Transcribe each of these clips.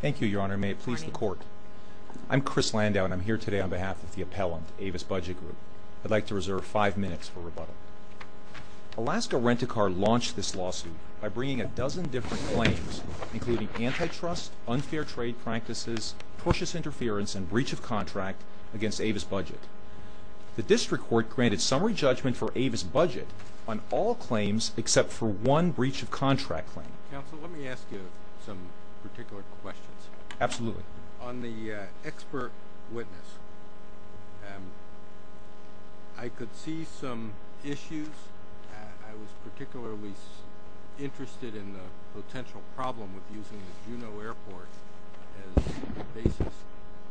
Thank you, Your Honor. May it please the Court. I'm Chris Landau, and I'm here today on behalf of the appellant, Avis Budget Group. I'd like to reserve five minutes for rebuttal. Alaska Rent-A-Car launched this lawsuit by bringing a dozen different claims, including antitrust, unfair trade practices, tortuous interference, and breach of contract against Avis Budget. The District Court granted summary judgment for Avis Budget on all claims except for one breach of contract claim. Counsel, let me ask you some particular questions. Absolutely. On the expert witness, I could see some issues. I was particularly interested in the potential problem with using the Juneau Airport as the basis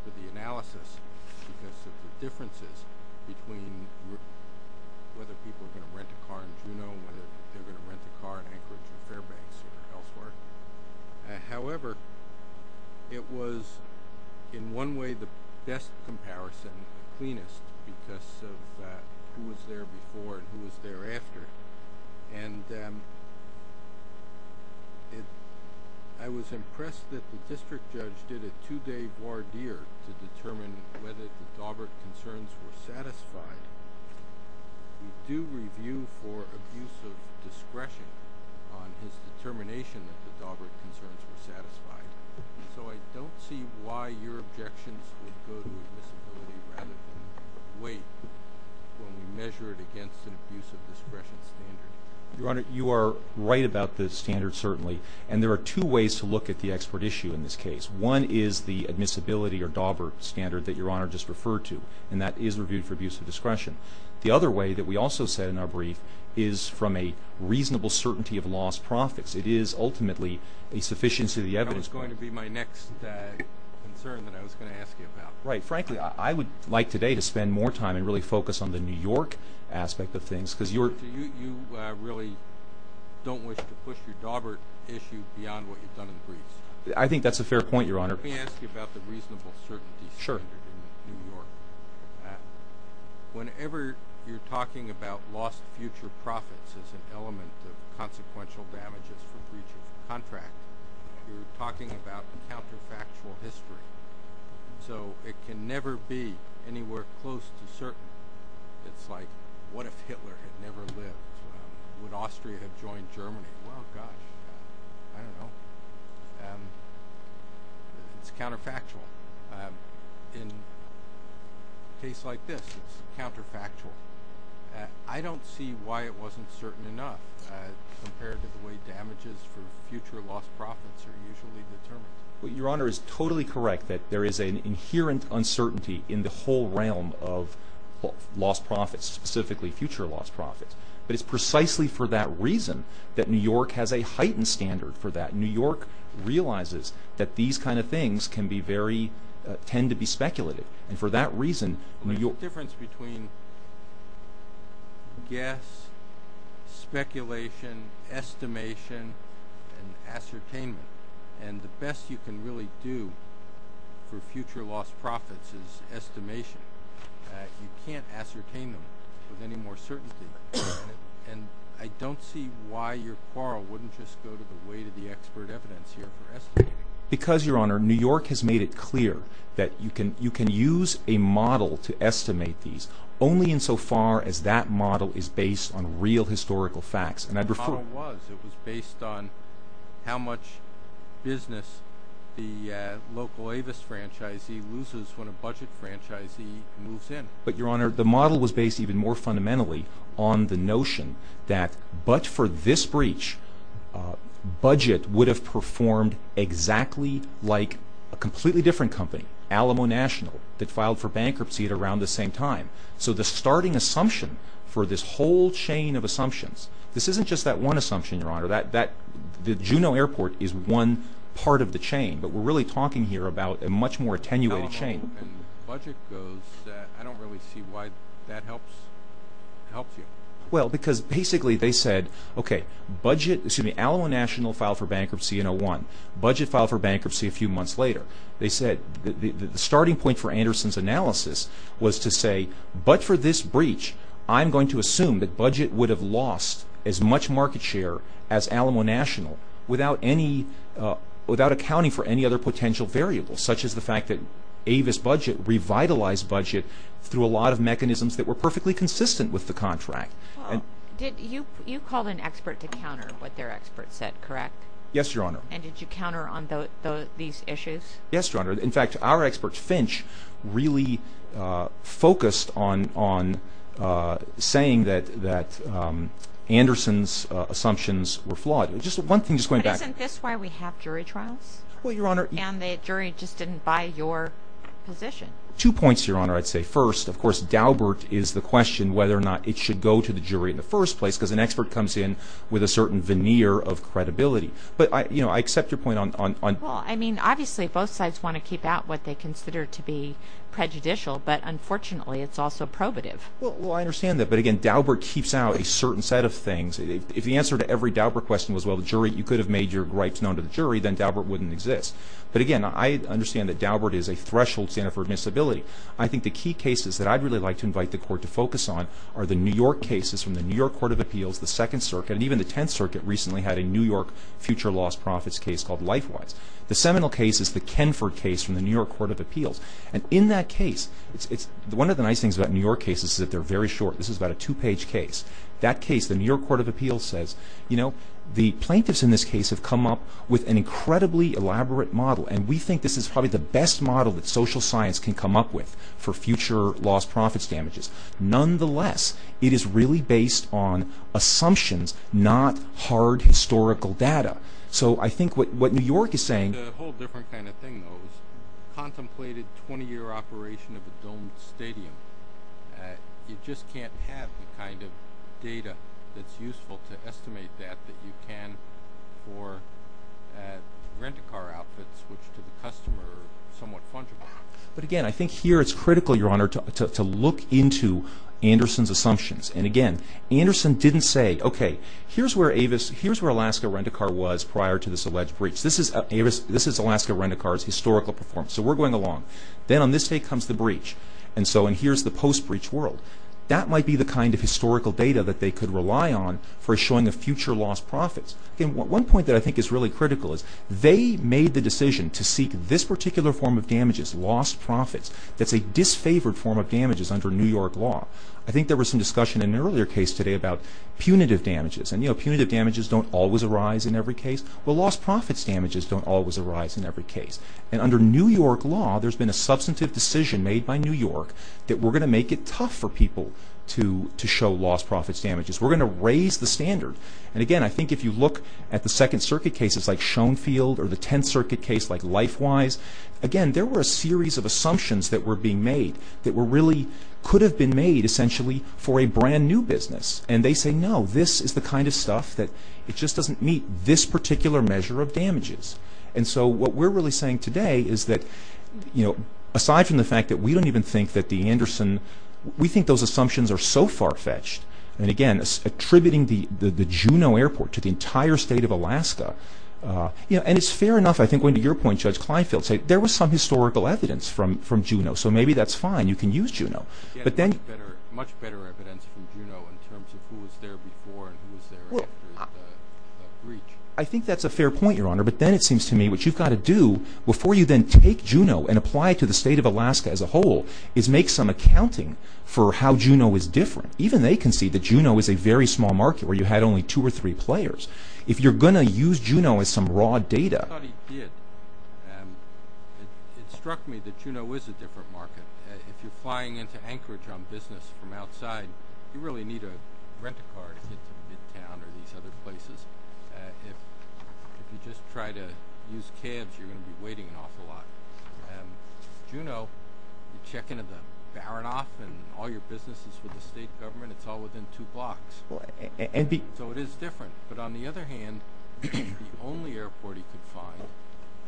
for the analysis because of the differences between whether people are going to rent a car in Juneau and whether they're going to rent a car in Anchorage or Fairbanks or elsewhere. However, it was in one way the best comparison, the cleanest, because of who was there before and who was there after. I was impressed that the district judge did a two-day voir dire to determine whether the Daubert concerns were satisfied. We do review for abuse of discretion on his determination that the Daubert concerns were satisfied. So I don't see why your objections would go to admissibility rather than weight when we measure it against an abuse of discretion standard. Your Honor, you are right about the standard, certainly. And there are two ways to look at the expert issue in this case. One is the admissibility or Daubert standard that Your Honor just referred to, and that is reviewed for abuse of discretion. The other way that we also said in our brief is from a reasonable certainty of lost profits. It is ultimately a sufficiency of the evidence. That was going to be my next concern that I was going to ask you about. Right. Frankly, I would like today to spend more time and really focus on the New York aspect of things. Because you really don't wish to push your Daubert issue beyond what you've done in the briefs. I think that's a fair point, Your Honor. Let me ask you about the reasonable certainty standard in New York. Whenever you're talking about lost future profits as an element of consequential damages for breaching a contract, you're talking about counterfactual history. So it can never be anywhere close to certain. It's like, what if Hitler had never lived? Would Austria have joined Germany? Well, gosh, I don't know. It's counterfactual. In a case like this, it's counterfactual. I don't see why it wasn't certain enough compared to the way damages for future lost profits are usually determined. Your Honor is totally correct that there is an inherent uncertainty in the whole realm of lost profits, specifically future lost profits. But it's precisely for that reason that New York has a heightened standard for that. New York realizes that these kind of things tend to be speculative. And for that reason, New York— The difference between guess, speculation, estimation, and ascertainment. And the best you can really do for future lost profits is estimation. You can't ascertain them with any more certainty. And I don't see why your quarrel wouldn't just go to the weight of the expert evidence here for estimating. Because, Your Honor, New York has made it clear that you can use a model to estimate these only insofar as that model is based on real historical facts. And the model was. It was based on how much business the local Avis franchisee loses when a budget franchisee moves in. But, Your Honor, the model was based even more fundamentally on the notion that, but for this breach, budget would have performed exactly like a completely different company, Alamo National, that filed for bankruptcy at around the same time. So the starting assumption for this whole chain of assumptions, this isn't just that one assumption, Your Honor. The Juneau Airport is one part of the chain. But we're really talking here about a much more attenuated chain. And budget goes, I don't really see why that helps you. Well, because basically they said, okay, Alamo National filed for bankruptcy in 2001. Budget filed for bankruptcy a few months later. They said the starting point for Anderson's analysis was to say, but for this breach, I'm going to assume that budget would have lost as much market share as Alamo National without accounting for any other potential variables, such as the fact that Avis budget revitalized budget through a lot of mechanisms that were perfectly consistent with the contract. You called an expert to counter what their expert said, correct? Yes, Your Honor. And did you counter on these issues? Yes, Your Honor. In fact, our expert, Finch, really focused on saying that Anderson's assumptions were flawed. Just one thing, just going back. But isn't this why we have jury trials? Well, Your Honor. And the jury just didn't buy your position. Two points, Your Honor, I'd say. First, of course, Daubert is the question whether or not it should go to the jury in the first place because an expert comes in with a certain veneer of credibility. But, you know, I accept your point on – Well, I mean, obviously both sides want to keep out what they consider to be prejudicial. But, unfortunately, it's also probative. Well, I understand that. But, again, Daubert keeps out a certain set of things. If the answer to every Daubert question was, well, you could have made your rights known to the jury, then Daubert wouldn't exist. But, again, I understand that Daubert is a threshold standard for admissibility. I think the key cases that I'd really like to invite the Court to focus on are the New York cases from the New York Court of Appeals, the Second Circuit, and even the Tenth Circuit recently had a New York future loss profits case called LifeWise. The Seminole case is the Kenford case from the New York Court of Appeals. And in that case, one of the nice things about New York cases is that they're very short. This is about a two-page case. That case, the New York Court of Appeals says, you know, the plaintiffs in this case have come up with an incredibly elaborate model. And we think this is probably the best model that social science can come up with for future loss profits damages. Nonetheless, it is really based on assumptions, not hard historical data. So, I think what New York is saying... A whole different kind of thing, though, is contemplated 20-year operation of a domed stadium. You just can't have the kind of data that's useful to estimate that, that you can for rent-a-car outfits, which to the customer are somewhat fungible. But again, I think here it's critical, Your Honor, to look into Anderson's assumptions. And again, Anderson didn't say, okay, here's where Alaska rent-a-car was prior to this alleged breach. This is Alaska rent-a-car's historical performance, so we're going along. Then on this day comes the breach, and so here's the post-breach world. That might be the kind of historical data that they could rely on for showing the future loss profits. One point that I think is really critical is they made the decision to seek this particular form of damages, lost profits, that's a disfavored form of damages under New York law. I think there was some discussion in an earlier case today about punitive damages. And, you know, punitive damages don't always arise in every case. Well, lost profits damages don't always arise in every case. And under New York law, there's been a substantive decision made by New York that we're going to make it tough for people to show lost profits damages. We're going to raise the standard. And again, I think if you look at the Second Circuit cases like Schoenfield or the Tenth Circuit case like LifeWise, again, there were a series of assumptions that were being made that really could have been made essentially for a brand-new business. And they say, no, this is the kind of stuff that it just doesn't meet this particular measure of damages. And so what we're really saying today is that, you know, aside from the fact that we don't even think that the Anderson, we think those assumptions are so far-fetched. And again, attributing the Juneau Airport to the entire state of Alaska, you know, and it's fair enough, I think, going to your point, Judge Kleinfeld, say there was some historical evidence from Juneau. So maybe that's fine. You can use Juneau. But then – Much better evidence from Juneau in terms of who was there before and who was there after the breach. I think that's a fair point, Your Honor. But then it seems to me what you've got to do before you then take Juneau and apply it to the state of Alaska as a whole is make some accounting for how Juneau is different. Even they can see that Juneau is a very small market where you had only two or three players. If you're going to use Juneau as some raw data – I thought he did. It struck me that Juneau is a different market. If you're flying into Anchorage on business from outside, you really need to rent a car to get to Midtown or these other places. If you just try to use cabs, you're going to be waiting an awful lot. Juneau, you check into the Baronoff and all your businesses with the state government, it's all within two blocks. So it is different. But on the other hand, it's the only airport he could find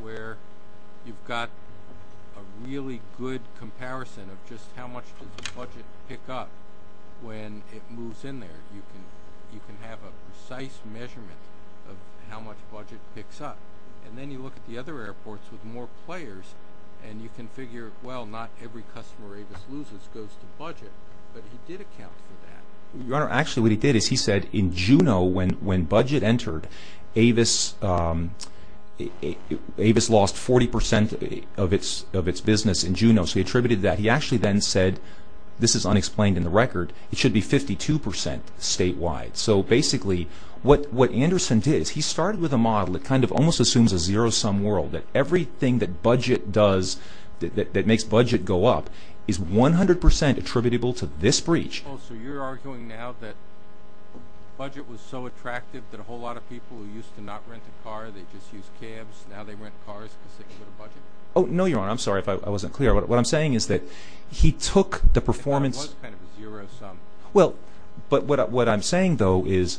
where you've got a really good comparison of just how much does the budget pick up when it moves in there. You can have a precise measurement of how much budget picks up. And then you look at the other airports with more players, and you can figure, well, not every customer Avis loses goes to budget. But he did account for that. Your Honor, actually what he did is he said in Juneau when budget entered, Avis lost 40% of its business in Juneau. So he attributed that. He actually then said – this is unexplained in the record – it should be 52% statewide. So basically what Anderson did is he started with a model that kind of almost assumes a zero-sum world, that everything that makes budget go up is 100% attributable to this breach. Oh, so you're arguing now that budget was so attractive that a whole lot of people who used to not rent a car, they just used cabs. Now they rent cars because they can get a budget? Oh, no, Your Honor. I'm sorry if I wasn't clear. What I'm saying is that he took the performance – It was kind of a zero-sum. Well, but what I'm saying, though, is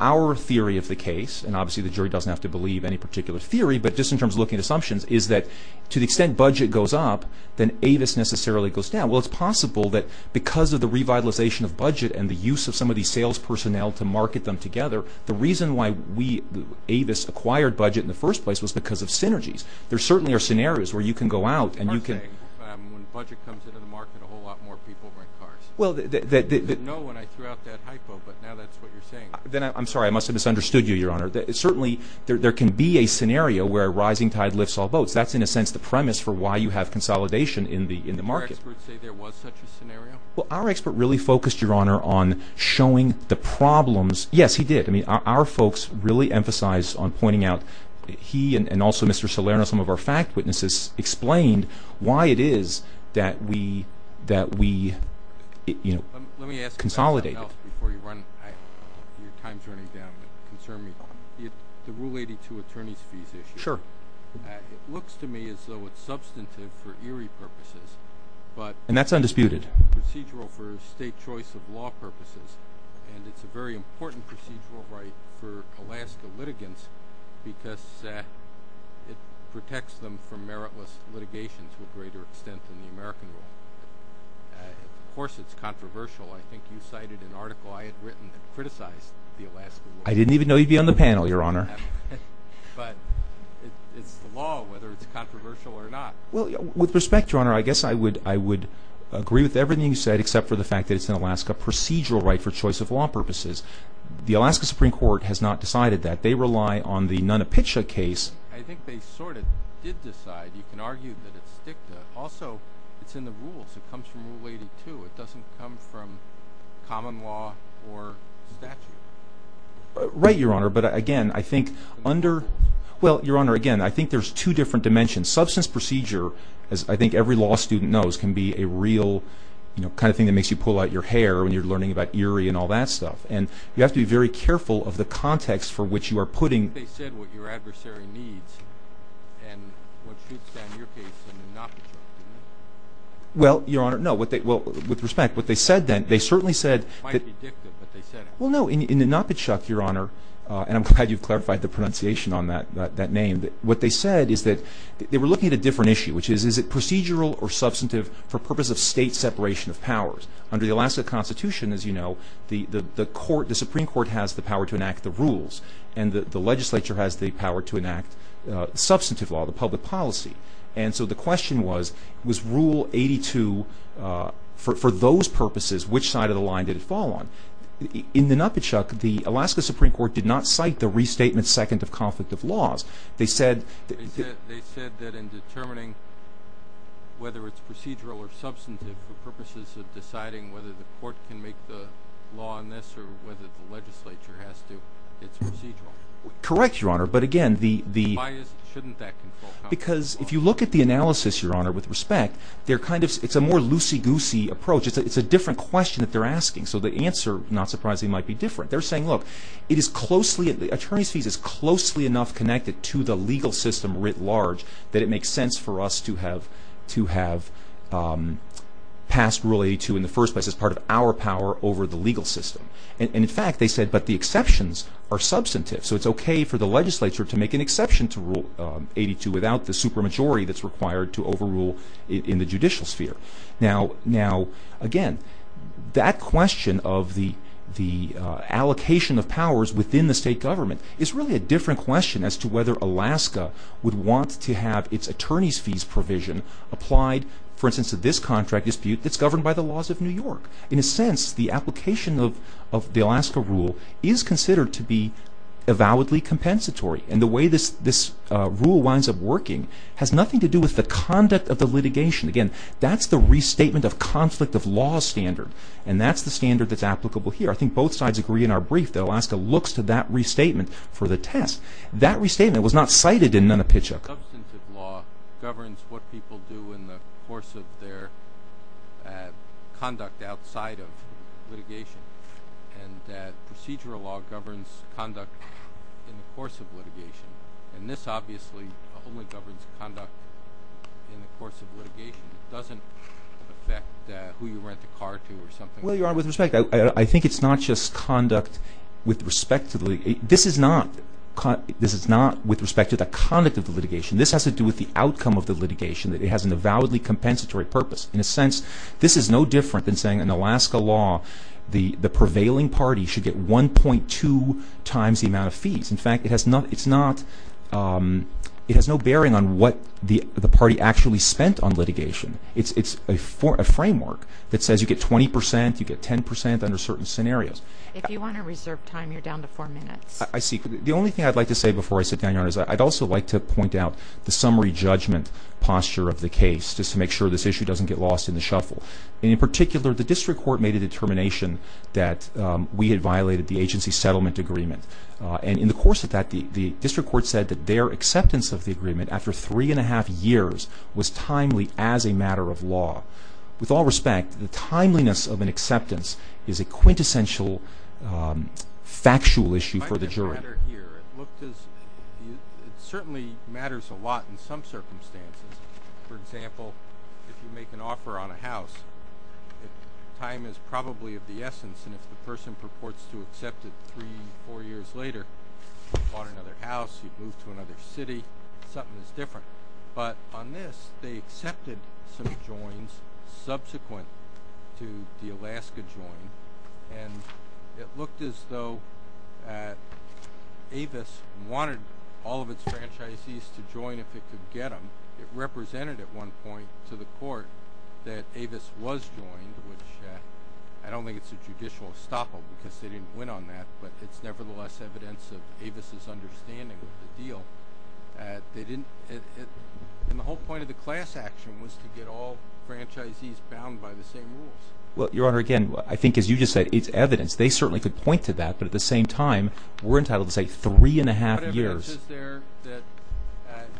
our theory of the case – and obviously the jury doesn't have to believe any particular theory, but just in terms of looking at assumptions – is that to the extent budget goes up, then Avis necessarily goes down. Well, it's possible that because of the revitalization of budget and the use of some of these sales personnel to market them together, the reason why we, Avis, acquired budget in the first place was because of synergies. There certainly are scenarios where you can go out and you can – I'm not saying when budget comes into the market, a whole lot more people rent cars. No, when I threw out that hypo, but now that's what you're saying. I'm sorry. I must have misunderstood you, Your Honor. Certainly there can be a scenario where a rising tide lifts all boats. That's, in a sense, the premise for why you have consolidation in the market. Did our experts say there was such a scenario? Well, our expert really focused, Your Honor, on showing the problems – yes, he did. I mean, our folks really emphasized on pointing out – he and also Mr. Salerno, some of our fact witnesses, explained why it is that we, you know, consolidated. Let me ask about something else before you run – your time's running down, but concern me. The Rule 82 attorney's fees issue. Sure. It looks to me as though it's substantive for Erie purposes. And that's undisputed. Procedural for state choice of law purposes, and it's a very important procedural right for Alaska litigants because it protects them from meritless litigation to a greater extent than the American Rule. Of course, it's controversial. I think you cited an article I had written that criticized the Alaska Law. I didn't even know you'd be on the panel, Your Honor. But it's the law, whether it's controversial or not. Well, with respect, Your Honor, I guess I would agree with everything you said except for the fact that it's an Alaska procedural right for choice of law purposes. The Alaska Supreme Court has not decided that. They rely on the Nunapitcha case. I think they sort of did decide. You can argue that it's dicta. Also, it's in the rules. It comes from Rule 82. It doesn't come from common law or statute. Right, Your Honor. But, again, I think under— Well, Your Honor, again, I think there's two different dimensions. Substance procedure, as I think every law student knows, can be a real kind of thing that makes you pull out your hair when you're learning about Erie and all that stuff. And you have to be very careful of the context for which you are putting— I think they said what your adversary needs and what should stand your case in Nunapitcha. Well, Your Honor, no. Well, with respect, what they said then, they certainly said— It might be dicta, but they said it. Well, no, in Nunapitcha, Your Honor, and I'm glad you've clarified the pronunciation on that name, what they said is that they were looking at a different issue, which is procedural or substantive for purpose of state separation of powers. Under the Alaska Constitution, as you know, the Supreme Court has the power to enact the rules, and the legislature has the power to enact substantive law, the public policy. And so the question was, was Rule 82, for those purposes, which side of the line did it fall on? In Nunapitcha, the Alaska Supreme Court did not cite the restatement second of conflict of laws. They said— They said that in determining whether it's procedural or substantive for purposes of deciding whether the court can make the law on this or whether the legislature has to, it's procedural. Correct, Your Honor, but again, the— Why shouldn't that control— Because if you look at the analysis, Your Honor, with respect, it's a more loosey-goosey approach. It's a different question that they're asking. So the answer, not surprisingly, might be different. They're saying, look, it is closely— Attorney's fees is closely enough connected to the legal system writ large that it makes sense for us to have passed Rule 82 in the first place as part of our power over the legal system. And in fact, they said, but the exceptions are substantive. So it's okay for the legislature to make an exception to Rule 82 without the supermajority that's required to overrule in the judicial sphere. Now, again, that question of the allocation of powers within the state government is really a different question as to whether Alaska would want to have its attorney's fees provision applied, for instance, to this contract dispute that's governed by the laws of New York. In a sense, the application of the Alaska Rule is considered to be avowedly compensatory. And the way this rule winds up working has nothing to do with the conduct of the litigation. Again, that's the restatement of conflict of law standard. And that's the standard that's applicable here. I think both sides agree in our brief that Alaska looks to that restatement for the test. That restatement was not cited in Nunn and Pitchock. Substantive law governs what people do in the course of their conduct outside of litigation. And this obviously only governs conduct in the course of litigation. It doesn't affect who you rent a car to or something like that. Well, Your Honor, with respect, I think it's not just conduct with respect to the litigation. This is not with respect to the conduct of the litigation. This has to do with the outcome of the litigation, that it has an avowedly compensatory purpose. In a sense, this is no different than saying in Alaska law the prevailing party should get 1.2 times the amount of fees. In fact, it has no bearing on what the party actually spent on litigation. It's a framework that says you get 20 percent, you get 10 percent under certain scenarios. If you want to reserve time, you're down to four minutes. I see. The only thing I'd like to say before I sit down, Your Honor, is I'd also like to point out the summary judgment posture of the case just to make sure this issue doesn't get lost in the shuffle. And in particular, the district court made a determination that we had violated the agency settlement agreement. And in the course of that, the district court said that their acceptance of the agreement after three and a half years was timely as a matter of law. With all respect, the timeliness of an acceptance is a quintessential factual issue for the jury. It certainly matters a lot in some circumstances. For example, if you make an offer on a house, time is probably of the essence. And if the person purports to accept it three, four years later, you bought another house, you moved to another city, something is different. But on this, they accepted some joins subsequent to the Alaska join, and it looked as though Avis wanted all of its franchisees to join if it could get them. It represented at one point to the court that Avis was joined, which I don't think it's a judicial estoppel because they didn't win on that, but it's nevertheless evidence of Avis's understanding of the deal. And the whole point of the class action was to get all franchisees bound by the same rules. Well, Your Honor, again, I think as you just said, it's evidence. They certainly could point to that, but at the same time, we're entitled to say three and a half years. What evidence is there that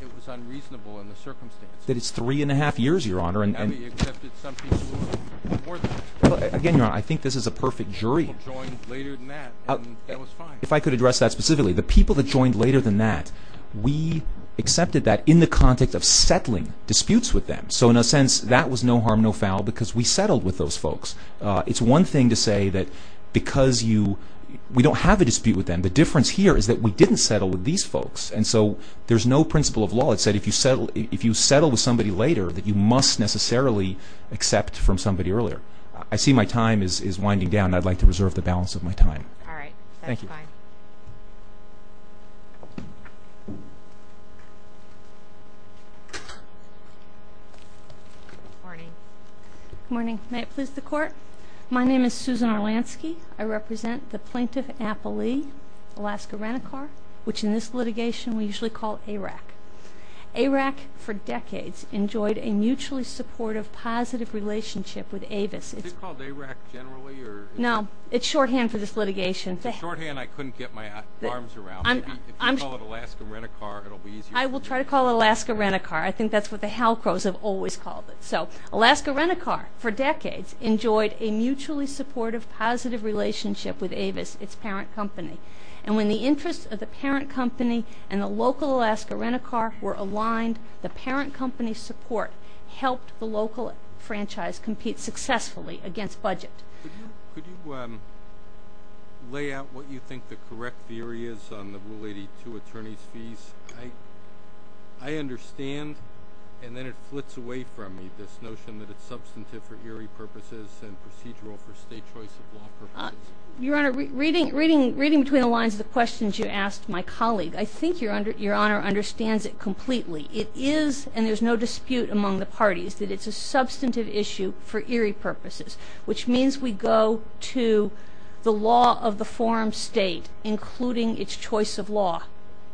it was unreasonable in the circumstance? That it's three and a half years, Your Honor. Avis accepted some people more than that. Again, Your Honor, I think this is a perfect jury. People joined later than that, and that was fine. If I could address that specifically, the people that joined later than that, we accepted that in the context of settling disputes with them. So in a sense, that was no harm, no foul, because we settled with those folks. It's one thing to say that because you – we don't have a dispute with them. The difference here is that we didn't settle with these folks, and so there's no principle of law that said if you settle with somebody later that you must necessarily accept from somebody earlier. I see my time is winding down. I'd like to reserve the balance of my time. All right. Thank you. That's fine. Good morning. Good morning. May it please the Court? My name is Susan Arlansky. I represent the plaintiff appellee, Alaska Renicar, which in this litigation we usually call ARAC. ARAC, for decades, enjoyed a mutually supportive, positive relationship with Avis. Is it called ARAC generally? No. It's shorthand for this litigation. It's a shorthand. I couldn't get my arms around it. If you call it Alaska Renicar, it'll be easier. I will try to call it Alaska Renicar. I think that's what the Halcros have always called it. Alaska Renicar, for decades, enjoyed a mutually supportive, positive relationship with Avis, its parent company. And when the interests of the parent company and the local Alaska Renicar were aligned, the parent company's support helped the local franchise compete successfully against budget. Could you lay out what you think the correct theory is on the Rule 82 attorney's fees? I understand, and then it flits away from me, this notion that it's substantive for eerie purposes and procedural for state choice of law purposes. Your Honor, reading between the lines of the questions you asked my colleague, I think Your Honor understands it completely. It is, and there's no dispute among the parties, that it's a substantive issue for eerie purposes, which means we go to the law of the foreign state, including its choice of law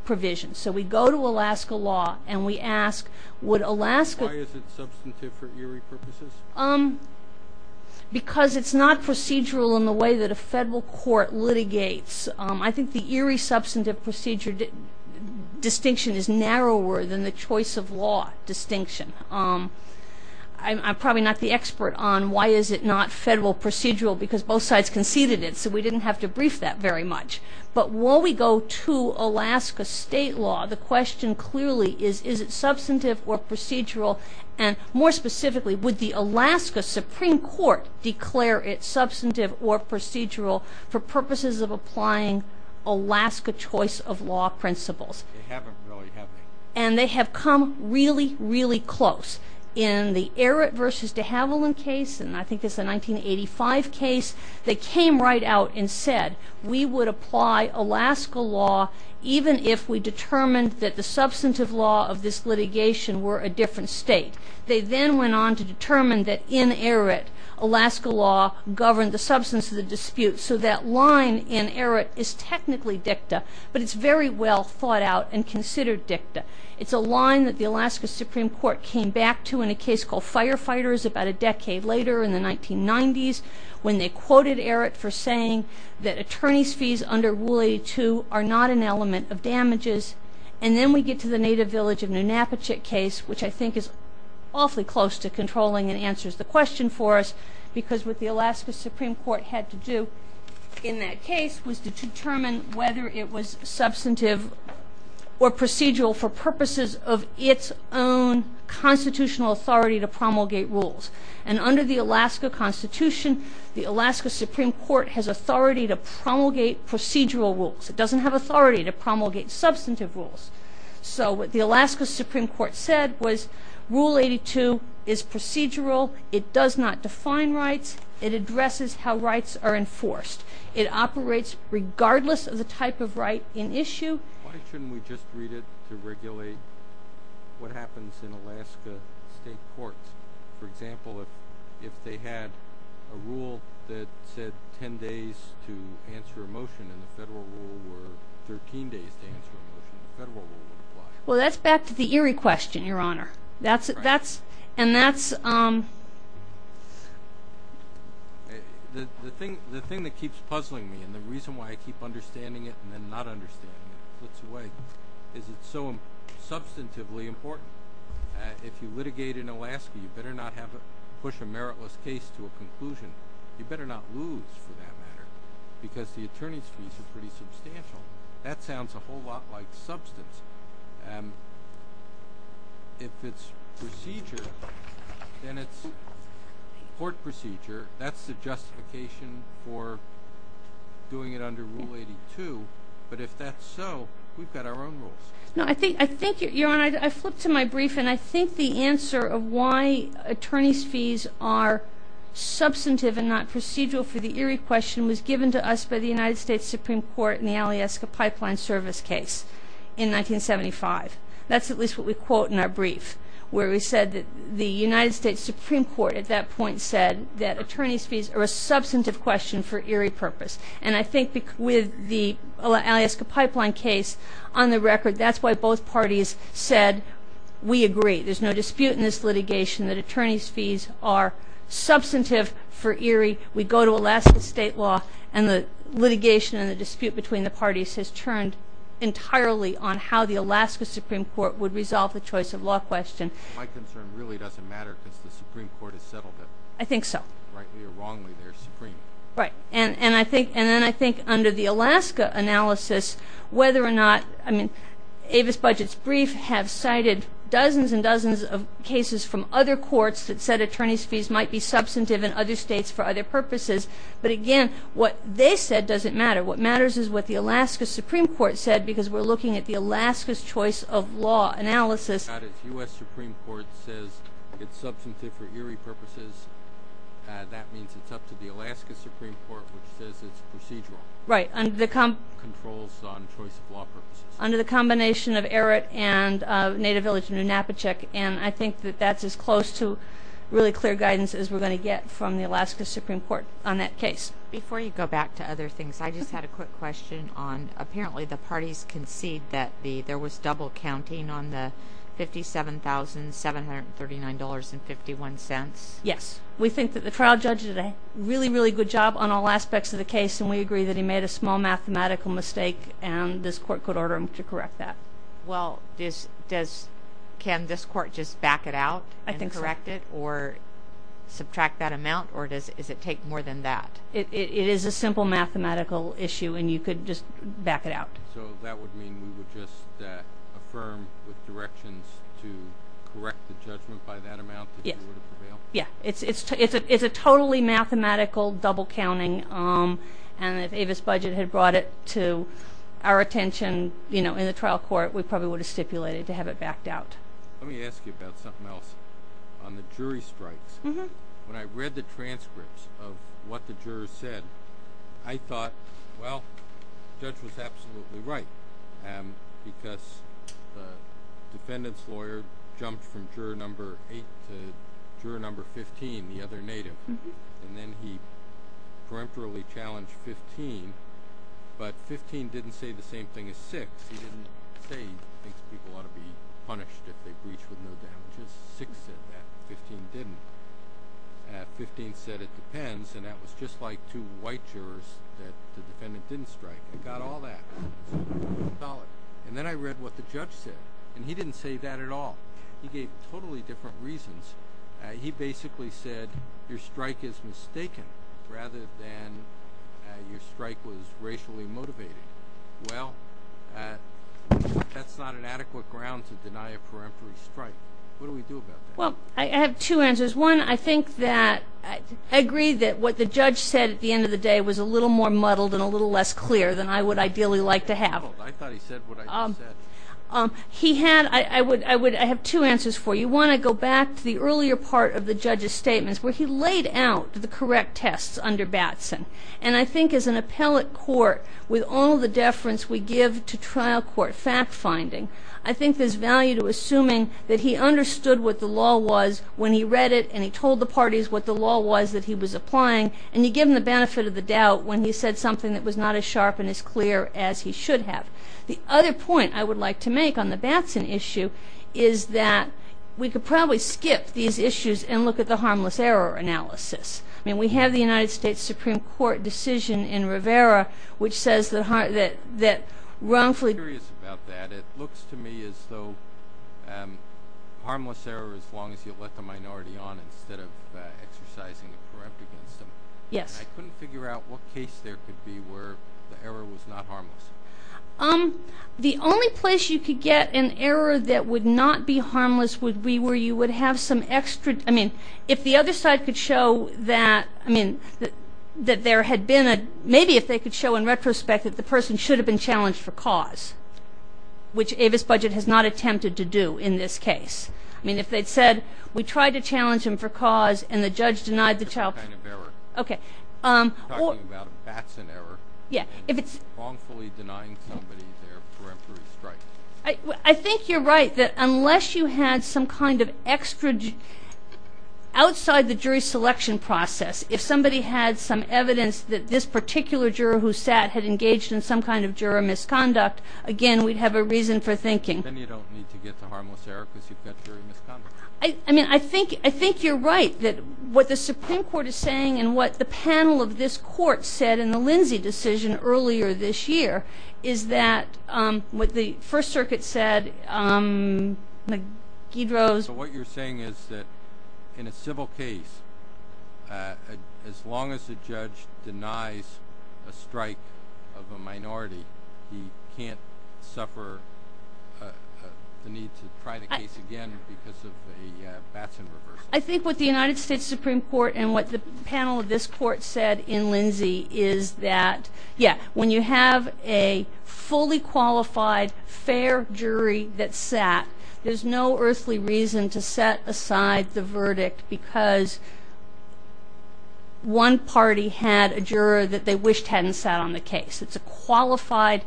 provision. So we go to Alaska law and we ask, would Alaska... Why is it substantive for eerie purposes? Because it's not procedural in the way that a federal court litigates. I think the eerie substantive procedure distinction is narrower than the choice of law distinction. I'm probably not the expert on why is it not federal procedural because both sides conceded it, so we didn't have to brief that very much. But while we go to Alaska state law, the question clearly is, is it substantive or procedural? And more specifically, would the Alaska Supreme Court declare it substantive or procedural for purposes of applying Alaska choice of law principles? They haven't really, have they? And they have come really, really close. In the Eret versus de Havilland case, and I think it's a 1985 case, they came right out and said, we would apply Alaska law even if we determined that the substantive law of this litigation were a different state. They then went on to determine that in Eret, Alaska law governed the substance of the dispute. So that line in Eret is technically dicta, but it's very well thought out and considered dicta. It's a line that the Alaska Supreme Court came back to in a case called Firefighters about a decade later in the 1990s when they quoted Eret for saying that attorney's fees under Rule 82 are not an element of damages. And then we get to the Native Village of Nunapichuk case, which I think is awfully close to controlling and answers the question for us because what the Alaska Supreme Court had to do in that case was to determine whether it was substantive or procedural for purposes of its own constitutional authority to promulgate rules. And under the Alaska Constitution, the Alaska Supreme Court has authority to promulgate procedural rules. It doesn't have authority to promulgate substantive rules. So what the Alaska Supreme Court said was Rule 82 is procedural. It does not define rights. It addresses how rights are enforced. It operates regardless of the type of right in issue. Why shouldn't we just read it to regulate what happens in Alaska state courts? For example, if they had a rule that said 10 days to answer a motion and the federal rule were 13 days to answer a motion, the federal rule would apply. Well, that's back to the Eret question, Your Honor. The thing that keeps puzzling me and the reason why I keep understanding it and then not understanding it is it's so substantively important. If you litigate in Alaska, you better not push a meritless case to a conclusion. You better not lose for that matter because the attorney's fees are pretty substantial. That sounds a whole lot like substance. If it's procedure, then it's court procedure. That's the justification for doing it under Rule 82. But if that's so, we've got our own rules. No, I think, Your Honor, I flipped to my brief, and I think the answer of why attorney's fees are substantive and not procedural for the Eret question was given to us by the United States Supreme Court in the Alaska Pipeline Service case in 1975. That's at least what we quote in our brief where we said that the United States Supreme Court at that point said that attorney's fees are a substantive question for Eret purpose. And I think with the Alaska Pipeline case, on the record, that's why both parties said we agree. There's no dispute in this litigation that attorney's fees are substantive for Eret. We go to Alaska state law, and the litigation and the dispute between the parties has turned entirely on how the Alaska Supreme Court would resolve the choice of law question. My concern really doesn't matter because the Supreme Court has settled it. I think so. Rightly or wrongly, they're supreme. Right. And then I think under the Alaska analysis, whether or not, I mean, Avis Budget's brief have cited dozens and dozens of cases from other courts that said attorney's fees might be substantive in other states for other purposes. But again, what they said doesn't matter. What matters is what the Alaska Supreme Court said because we're looking at the Alaska's choice of law analysis. The U.S. Supreme Court says it's substantive for Eret purposes. That means it's up to the Alaska Supreme Court, which says it's procedural. Right. Controls on choice of law purposes. Under the combination of Eret and Native Village, New Napa Check, and I think that that's as close to really clear guidance as we're going to get from the Alaska Supreme Court on that case. Before you go back to other things, I just had a quick question on apparently the parties concede that there was double counting on the $57,739.51. Yes. We think that the trial judge did a really, really good job on all aspects of the case, and we agree that he made a small mathematical mistake, and this court could order him to correct that. Well, can this court just back it out and correct it or subtract that amount, or does it take more than that? It is a simple mathematical issue, and you could just back it out. So that would mean we would just affirm with directions to correct the judgment by that amount that he would have prevailed? Yes. It's a totally mathematical double counting, and if Avis Budget had brought it to our attention in the trial court, we probably would have stipulated to have it backed out. Let me ask you about something else. On the jury strikes, when I read the transcripts of what the jurors said, I thought, well, the judge was absolutely right because the defendant's lawyer jumped from juror number 8 to juror number 15, the other native, and then he peremptorily challenged 15, but 15 didn't say the same thing as 6. He didn't say he thinks people ought to be punished if they breach with no damages. Six said that. Fifteen didn't. Fifteen said it depends, and that was just like two white jurors that the defendant didn't strike. He got all that. And then I read what the judge said, and he didn't say that at all. He gave totally different reasons. He basically said your strike is mistaken rather than your strike was racially motivated. Well, that's not an adequate ground to deny a peremptory strike. What do we do about that? Well, I have two answers. One, I think that I agree that what the judge said at the end of the day was a little more muddled and a little less clear than I would ideally like to have. I thought he said what I just said. I have two answers for you. One, I go back to the earlier part of the judge's statements where he laid out the correct tests under Batson, and I think as an appellate court with all the deference we give to trial court fact finding, I think there's value to assuming that he understood what the law was when he read it and he told the parties what the law was that he was applying, and he gave them the benefit of the doubt when he said something that was not as sharp and as clear as he should have. The other point I would like to make on the Batson issue is that we could probably skip these issues and look at the harmless error analysis. I mean, we have the United States Supreme Court decision in Rivera which says that wrongfully I'm curious about that. It looks to me as though harmless error as long as you let the minority on instead of exercising a perempt against them. Yes. I couldn't figure out what case there could be where the error was not harmless. The only place you could get an error that would not be harmless would be where you would have some extra, I mean, if the other side could show that, I mean, that there had been a, maybe if they could show in retrospect that the person should have been challenged for cause, which Avis Budget has not attempted to do in this case. I mean, if they'd said we tried to challenge him for cause and the judge denied the child. Okay. I think you're right that unless you had some kind of extra, outside the jury selection process, if somebody had some evidence that this particular juror who sat had engaged in some kind of juror misconduct, again, we'd have a reason for thinking. Then you don't need to get to harmless error because you've got juror misconduct. I mean, I think you're right that what the Supreme Court is saying and what the panel of this court said in the Lindsay decision earlier this year is that what the First Circuit said, So what you're saying is that in a civil case, as long as the judge denies a strike of a minority, he can't suffer the need to try the case again because of a Batson reversal. I think what the United States Supreme Court and what the panel of this court said in Lindsay is that, yeah, when you have a fully qualified, fair jury that sat, there's no earthly reason to set aside the verdict because one party had a juror that they wished hadn't sat on the case. It's a qualified,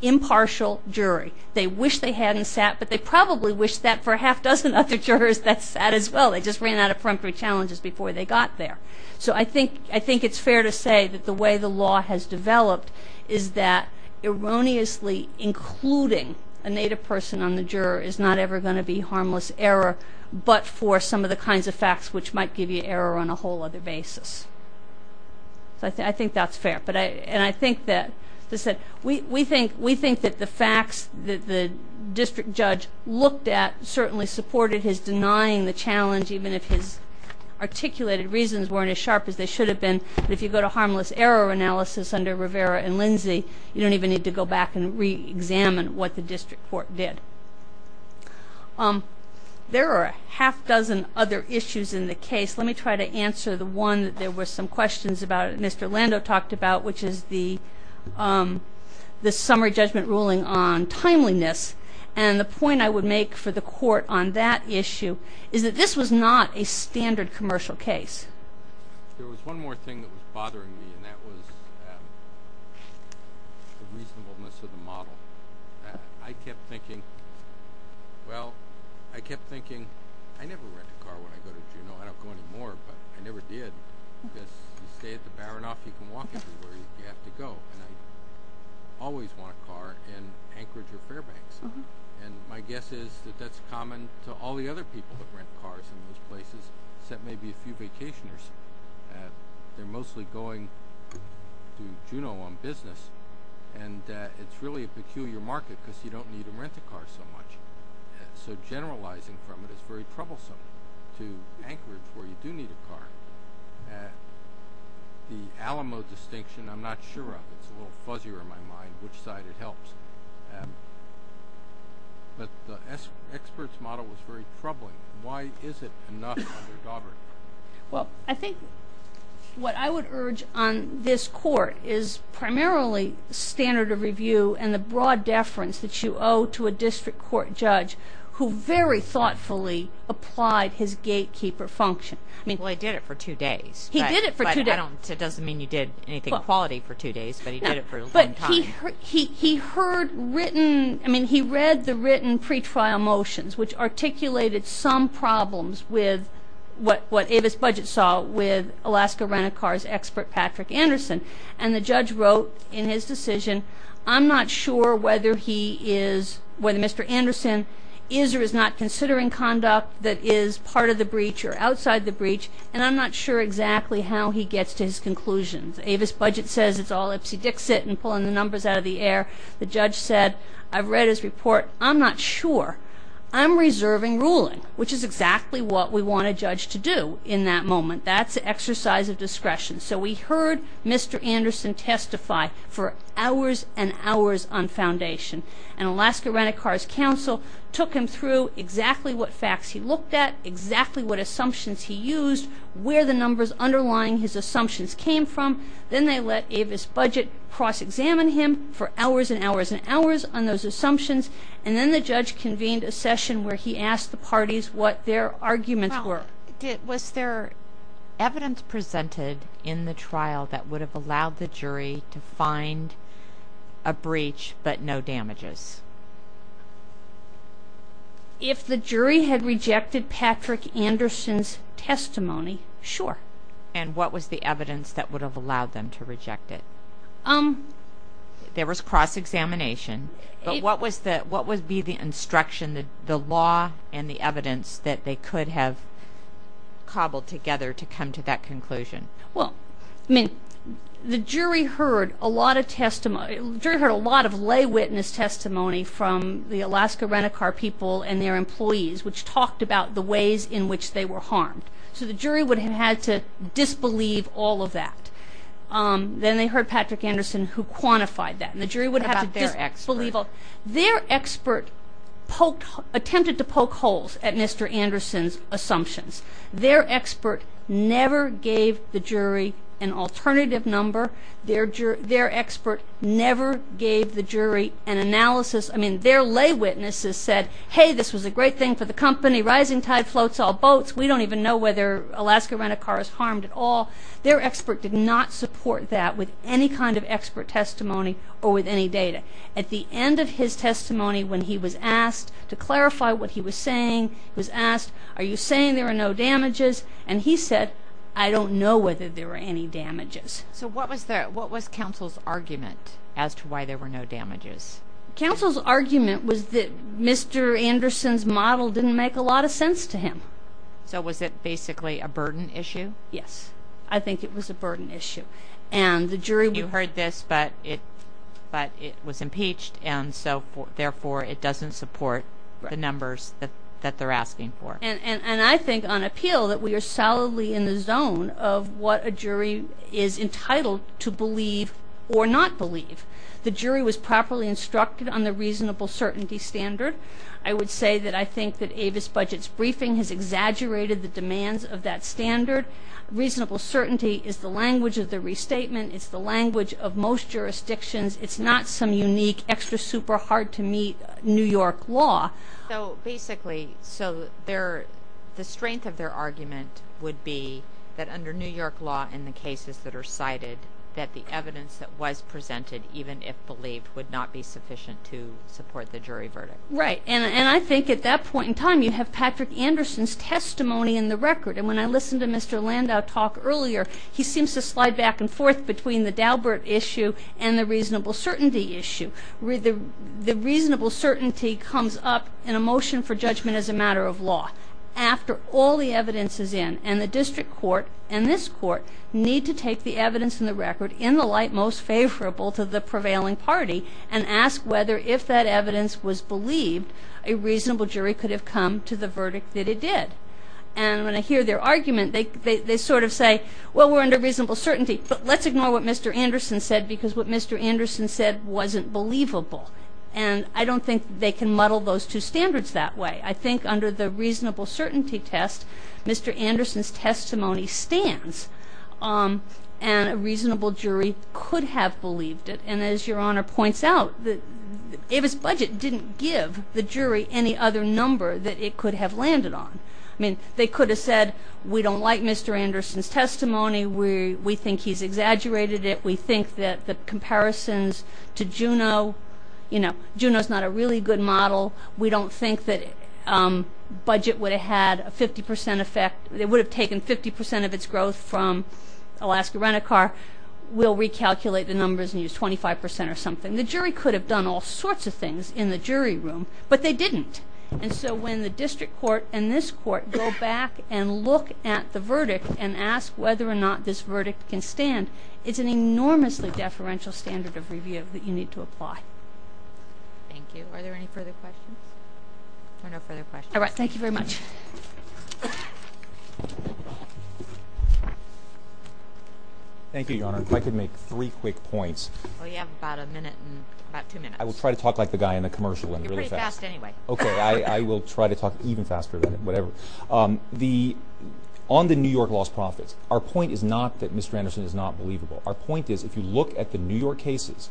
impartial jury. They wish they hadn't sat, but they probably wish that for a half dozen other jurors that sat as well. They just ran out of peremptory challenges before they got there. So I think it's fair to say that the way the law has developed is that erroneously including a native person on the juror is not ever going to be harmless error, but for some of the kinds of facts which might give you error on a whole other basis. So I think that's fair. And I think that we think that the facts that the district judge looked at certainly supported his denying the challenge, even if his articulated reasons weren't as sharp as they should have been. But if you go to harmless error analysis under Rivera and Lindsay, you don't even need to go back and reexamine what the district court did. There are a half dozen other issues in the case. Let me try to answer the one that there were some questions about that Mr. Lando talked about, which is the summary judgment ruling on timeliness. And the point I would make for the court on that issue is that this was not a standard commercial case. There was one more thing that was bothering me, and that was the reasonableness of the model. I kept thinking, well, I kept thinking, I never rent a car when I go to Juneau. I don't go anymore, but I never did. Because you stay at the Baranoff, you can walk everywhere you have to go. And I always want a car in Anchorage or Fairbanks. And my guess is that that's common to all the other people that rent cars in those places, except maybe a few vacationers. They're mostly going to Juneau on business, and it's really a peculiar market because you don't need to rent a car so much. So generalizing from it is very troublesome to Anchorage where you do need a car. The Alamo distinction, I'm not sure of. It's a little fuzzier in my mind which side it helps. But the expert's model was very troubling. Why is it enough under Daubert? Well, I think what I would urge on this court is primarily standard of review and the broad deference that you owe to a district court judge who very thoughtfully applied his gatekeeper function. Well, he did it for two days. He did it for two days. It doesn't mean you did anything quality for two days, but he did it for a long time. He read the written pretrial motions, which articulated some problems with what Avis Budget saw with Alaska Rent-A-Car's expert Patrick Anderson. And the judge wrote in his decision, I'm not sure whether he is, whether Mr. Anderson is or is not considering conduct that is part of the breach or outside the breach, and I'm not sure exactly how he gets to his conclusions. Avis Budget says it's all Ipsy Dixit and pulling the numbers out of the air. The judge said, I've read his report. I'm not sure. I'm reserving ruling, which is exactly what we want a judge to do in that moment. That's exercise of discretion. So we heard Mr. Anderson testify for hours and hours on foundation, and Alaska Rent-A-Car's counsel took him through exactly what facts he looked at, exactly what assumptions he used, where the numbers underlying his assumptions came from. Then they let Avis Budget cross-examine him for hours and hours and hours on those assumptions, and then the judge convened a session where he asked the parties what their arguments were. Was there evidence presented in the trial that would have allowed the jury to find a breach but no damages? If the jury had rejected Patrick Anderson's testimony, sure. And what was the evidence that would have allowed them to reject it? There was cross-examination, but what would be the instruction, and the law and the evidence that they could have cobbled together to come to that conclusion? Well, I mean, the jury heard a lot of testimony. The jury heard a lot of lay witness testimony from the Alaska Rent-A-Car people and their employees, which talked about the ways in which they were harmed. So the jury would have had to disbelieve all of that. Then they heard Patrick Anderson, who quantified that, and the jury would have to disbelieve all of that. What about their expert? Their expert attempted to poke holes at Mr. Anderson's assumptions. Their expert never gave the jury an alternative number. Their expert never gave the jury an analysis. I mean, their lay witnesses said, hey, this was a great thing for the company. Rising tide floats all boats. We don't even know whether Alaska Rent-A-Car is harmed at all. Their expert did not support that with any kind of expert testimony or with any data. At the end of his testimony, when he was asked to clarify what he was saying, he was asked, are you saying there are no damages? And he said, I don't know whether there were any damages. So what was counsel's argument as to why there were no damages? Counsel's argument was that Mr. Anderson's model didn't make a lot of sense to him. So was it basically a burden issue? Yes, I think it was a burden issue. You heard this, but it was impeached, and so therefore it doesn't support the numbers that they're asking for. And I think on appeal that we are solidly in the zone of what a jury is entitled to believe or not believe. The jury was properly instructed on the reasonable certainty standard. I would say that I think that Avis Budget's briefing has exaggerated the demands of that standard. Reasonable certainty is the language of the restatement. It's the language of most jurisdictions. It's not some unique extra super hard-to-meet New York law. So basically, the strength of their argument would be that under New York law and the cases that are cited that the evidence that was presented, even if believed, would not be sufficient to support the jury verdict. Right, and I think at that point in time you have Patrick Anderson's testimony in the record. And when I listened to Mr. Landau talk earlier, he seems to slide back and forth between the Daubert issue and the reasonable certainty issue. The reasonable certainty comes up in a motion for judgment as a matter of law after all the evidence is in. And the district court and this court need to take the evidence in the record in the light most favorable to the prevailing party and ask whether if that evidence was believed, a reasonable jury could have come to the verdict that it did. And when I hear their argument, they sort of say, well, we're under reasonable certainty, but let's ignore what Mr. Anderson said because what Mr. Anderson said wasn't believable. And I don't think they can muddle those two standards that way. I think under the reasonable certainty test, Mr. Anderson's testimony stands and a reasonable jury could have believed it. And as Your Honor points out, Avis Budget didn't give the jury any other number that it could have landed on. I mean, they could have said, we don't like Mr. Anderson's testimony, we think he's exaggerated it, we think that the comparisons to Juneau, you know, Juneau's not a really good model, we don't think that Budget would have had a 50% effect, it would have taken 50% of its growth from Alaska Rent-A-Car, we'll recalculate the numbers and use 25% or something. The jury could have done all sorts of things in the jury room, but they didn't. And so when the district court and this court go back and look at the verdict and ask whether or not this verdict can stand, it's an enormously deferential standard of review that you need to apply. Thank you. Are there any further questions? There are no further questions. All right. Thank you very much. Thank you, Your Honor. If I could make three quick points. Well, you have about a minute and about two minutes. I will try to talk like the guy in the commercial and really fast. You're pretty fast anyway. Okay. I will try to talk even faster than whatever. On the New York lost profits, our point is not that Mr. Anderson is not believable. Our point is, if you look at the New York cases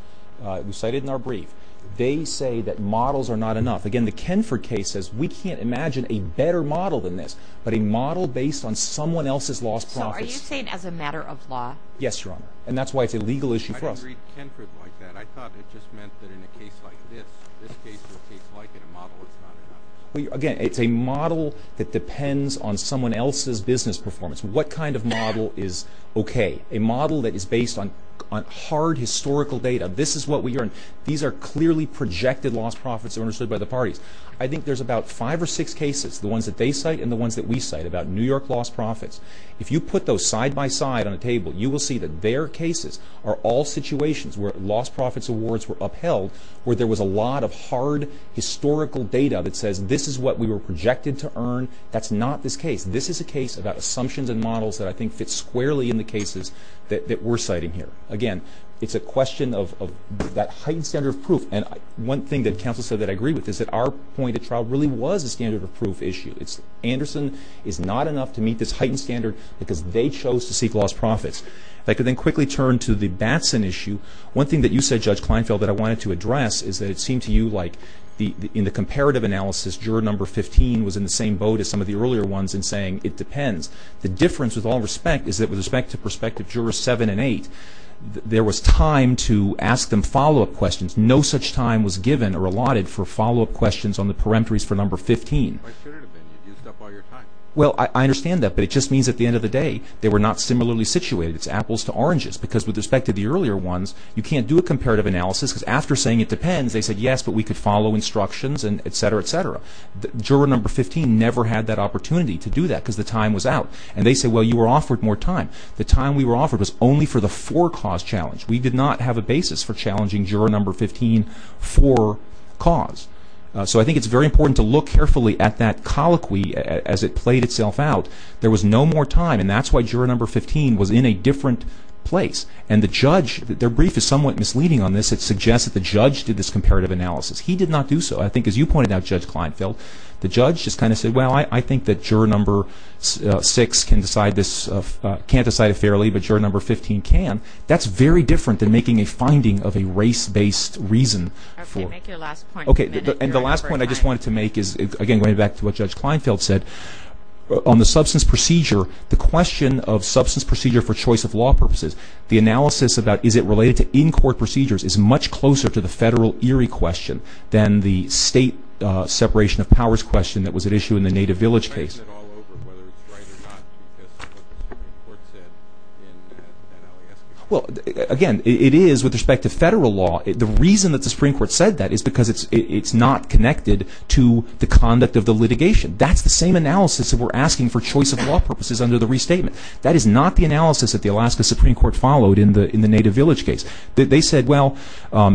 we cited in our brief, they say that models are not enough. Again, the Kenford case says we can't imagine a better model than this, but a model based on someone else's lost profits. So are you saying as a matter of law? Yes, Your Honor. And that's why it's a legal issue for us. When you read Kenford like that, I thought it just meant that in a case like this, this case is a case like in a model that's not enough. Again, it's a model that depends on someone else's business performance. What kind of model is okay? A model that is based on hard historical data. This is what we are in. These are clearly projected lost profits that were understood by the parties. I think there's about five or six cases, the ones that they cite and the ones that we cite about New York lost profits. If you put those side by side on a table, you will see that their cases are all situations where lost profits awards were upheld, where there was a lot of hard historical data that says this is what we were projected to earn. That's not this case. This is a case about assumptions and models that I think fits squarely in the cases that we're citing here. Again, it's a question of that heightened standard of proof. And one thing that counsel said that I agree with is that our point of trial really was a standard of proof issue. Anderson is not enough to meet this heightened standard because they chose to seek lost profits. If I could then quickly turn to the Batson issue. One thing that you said, Judge Kleinfeld, that I wanted to address is that it seemed to you like in the comparative analysis, juror number 15 was in the same boat as some of the earlier ones in saying it depends. The difference, with all respect, is that with respect to prospective jurors 7 and 8, there was time to ask them follow-up questions. No such time was given or allotted for follow-up questions on the peremptories for number 15. Why should it have been? You used up all your time. Well, I understand that. But it just means at the end of the day, they were not similarly situated. It's apples to oranges. Because with respect to the earlier ones, you can't do a comparative analysis because after saying it depends, they said, yes, but we could follow instructions and et cetera, et cetera. Juror number 15 never had that opportunity to do that because the time was out. And they say, well, you were offered more time. The time we were offered was only for the for-cause challenge. We did not have a basis for challenging juror number 15 for cause. So I think it's very important to look carefully at that colloquy as it played itself out. There was no more time. And that's why juror number 15 was in a different place. And the judge, their brief is somewhat misleading on this. It suggests that the judge did this comparative analysis. He did not do so. I think as you pointed out, Judge Kleinfeld, the judge just kind of said, well, I think that juror number 6 can't decide it fairly, but juror number 15 can. That's very different than making a finding of a race-based reason. Okay. Make your last point. Okay. And the last point I just wanted to make is, again, going back to what Judge Kleinfeld said, on the substance procedure, the question of substance procedure for choice of law purposes, the analysis about is it related to in-court procedures is much closer to the federal Erie question than the state separation of powers question that was at issue in the Native Village case. Is that all over whether it's right or not because of what the Supreme Court said in Alaska? Well, again, it is with respect to federal law. The reason that the Supreme Court said that is because it's not connected to the conduct of the litigation. That's the same analysis that we're asking for choice of law purposes under the restatement. That is not the analysis that the Alaska Supreme Court followed in the Native Village case. They said, well,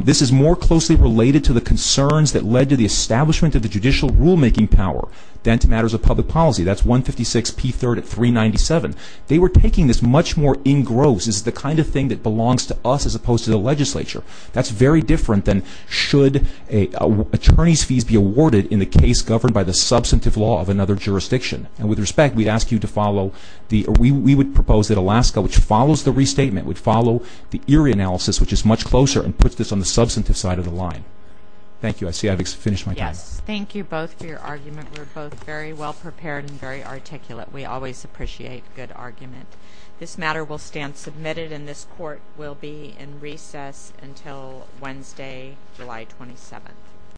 this is more closely related to the concerns that led to the establishment of the judicial rulemaking power than to matters of public policy. That's 156p3rd at 397. They were taking this much more in gross. This is the kind of thing that belongs to us as opposed to the legislature. That's very different than should attorneys' fees be awarded in the case governed by the substantive law of another jurisdiction. And with respect, we would propose that Alaska, which follows the restatement, would follow the Erie analysis, which is much closer and puts this on the substantive side of the line. Thank you. I see I've finished my time. Yes. Thank you both for your argument. We're both very well prepared and very articulate. We always appreciate good argument. This matter will stand submitted, and this court will be in recess until Wednesday, July 27th.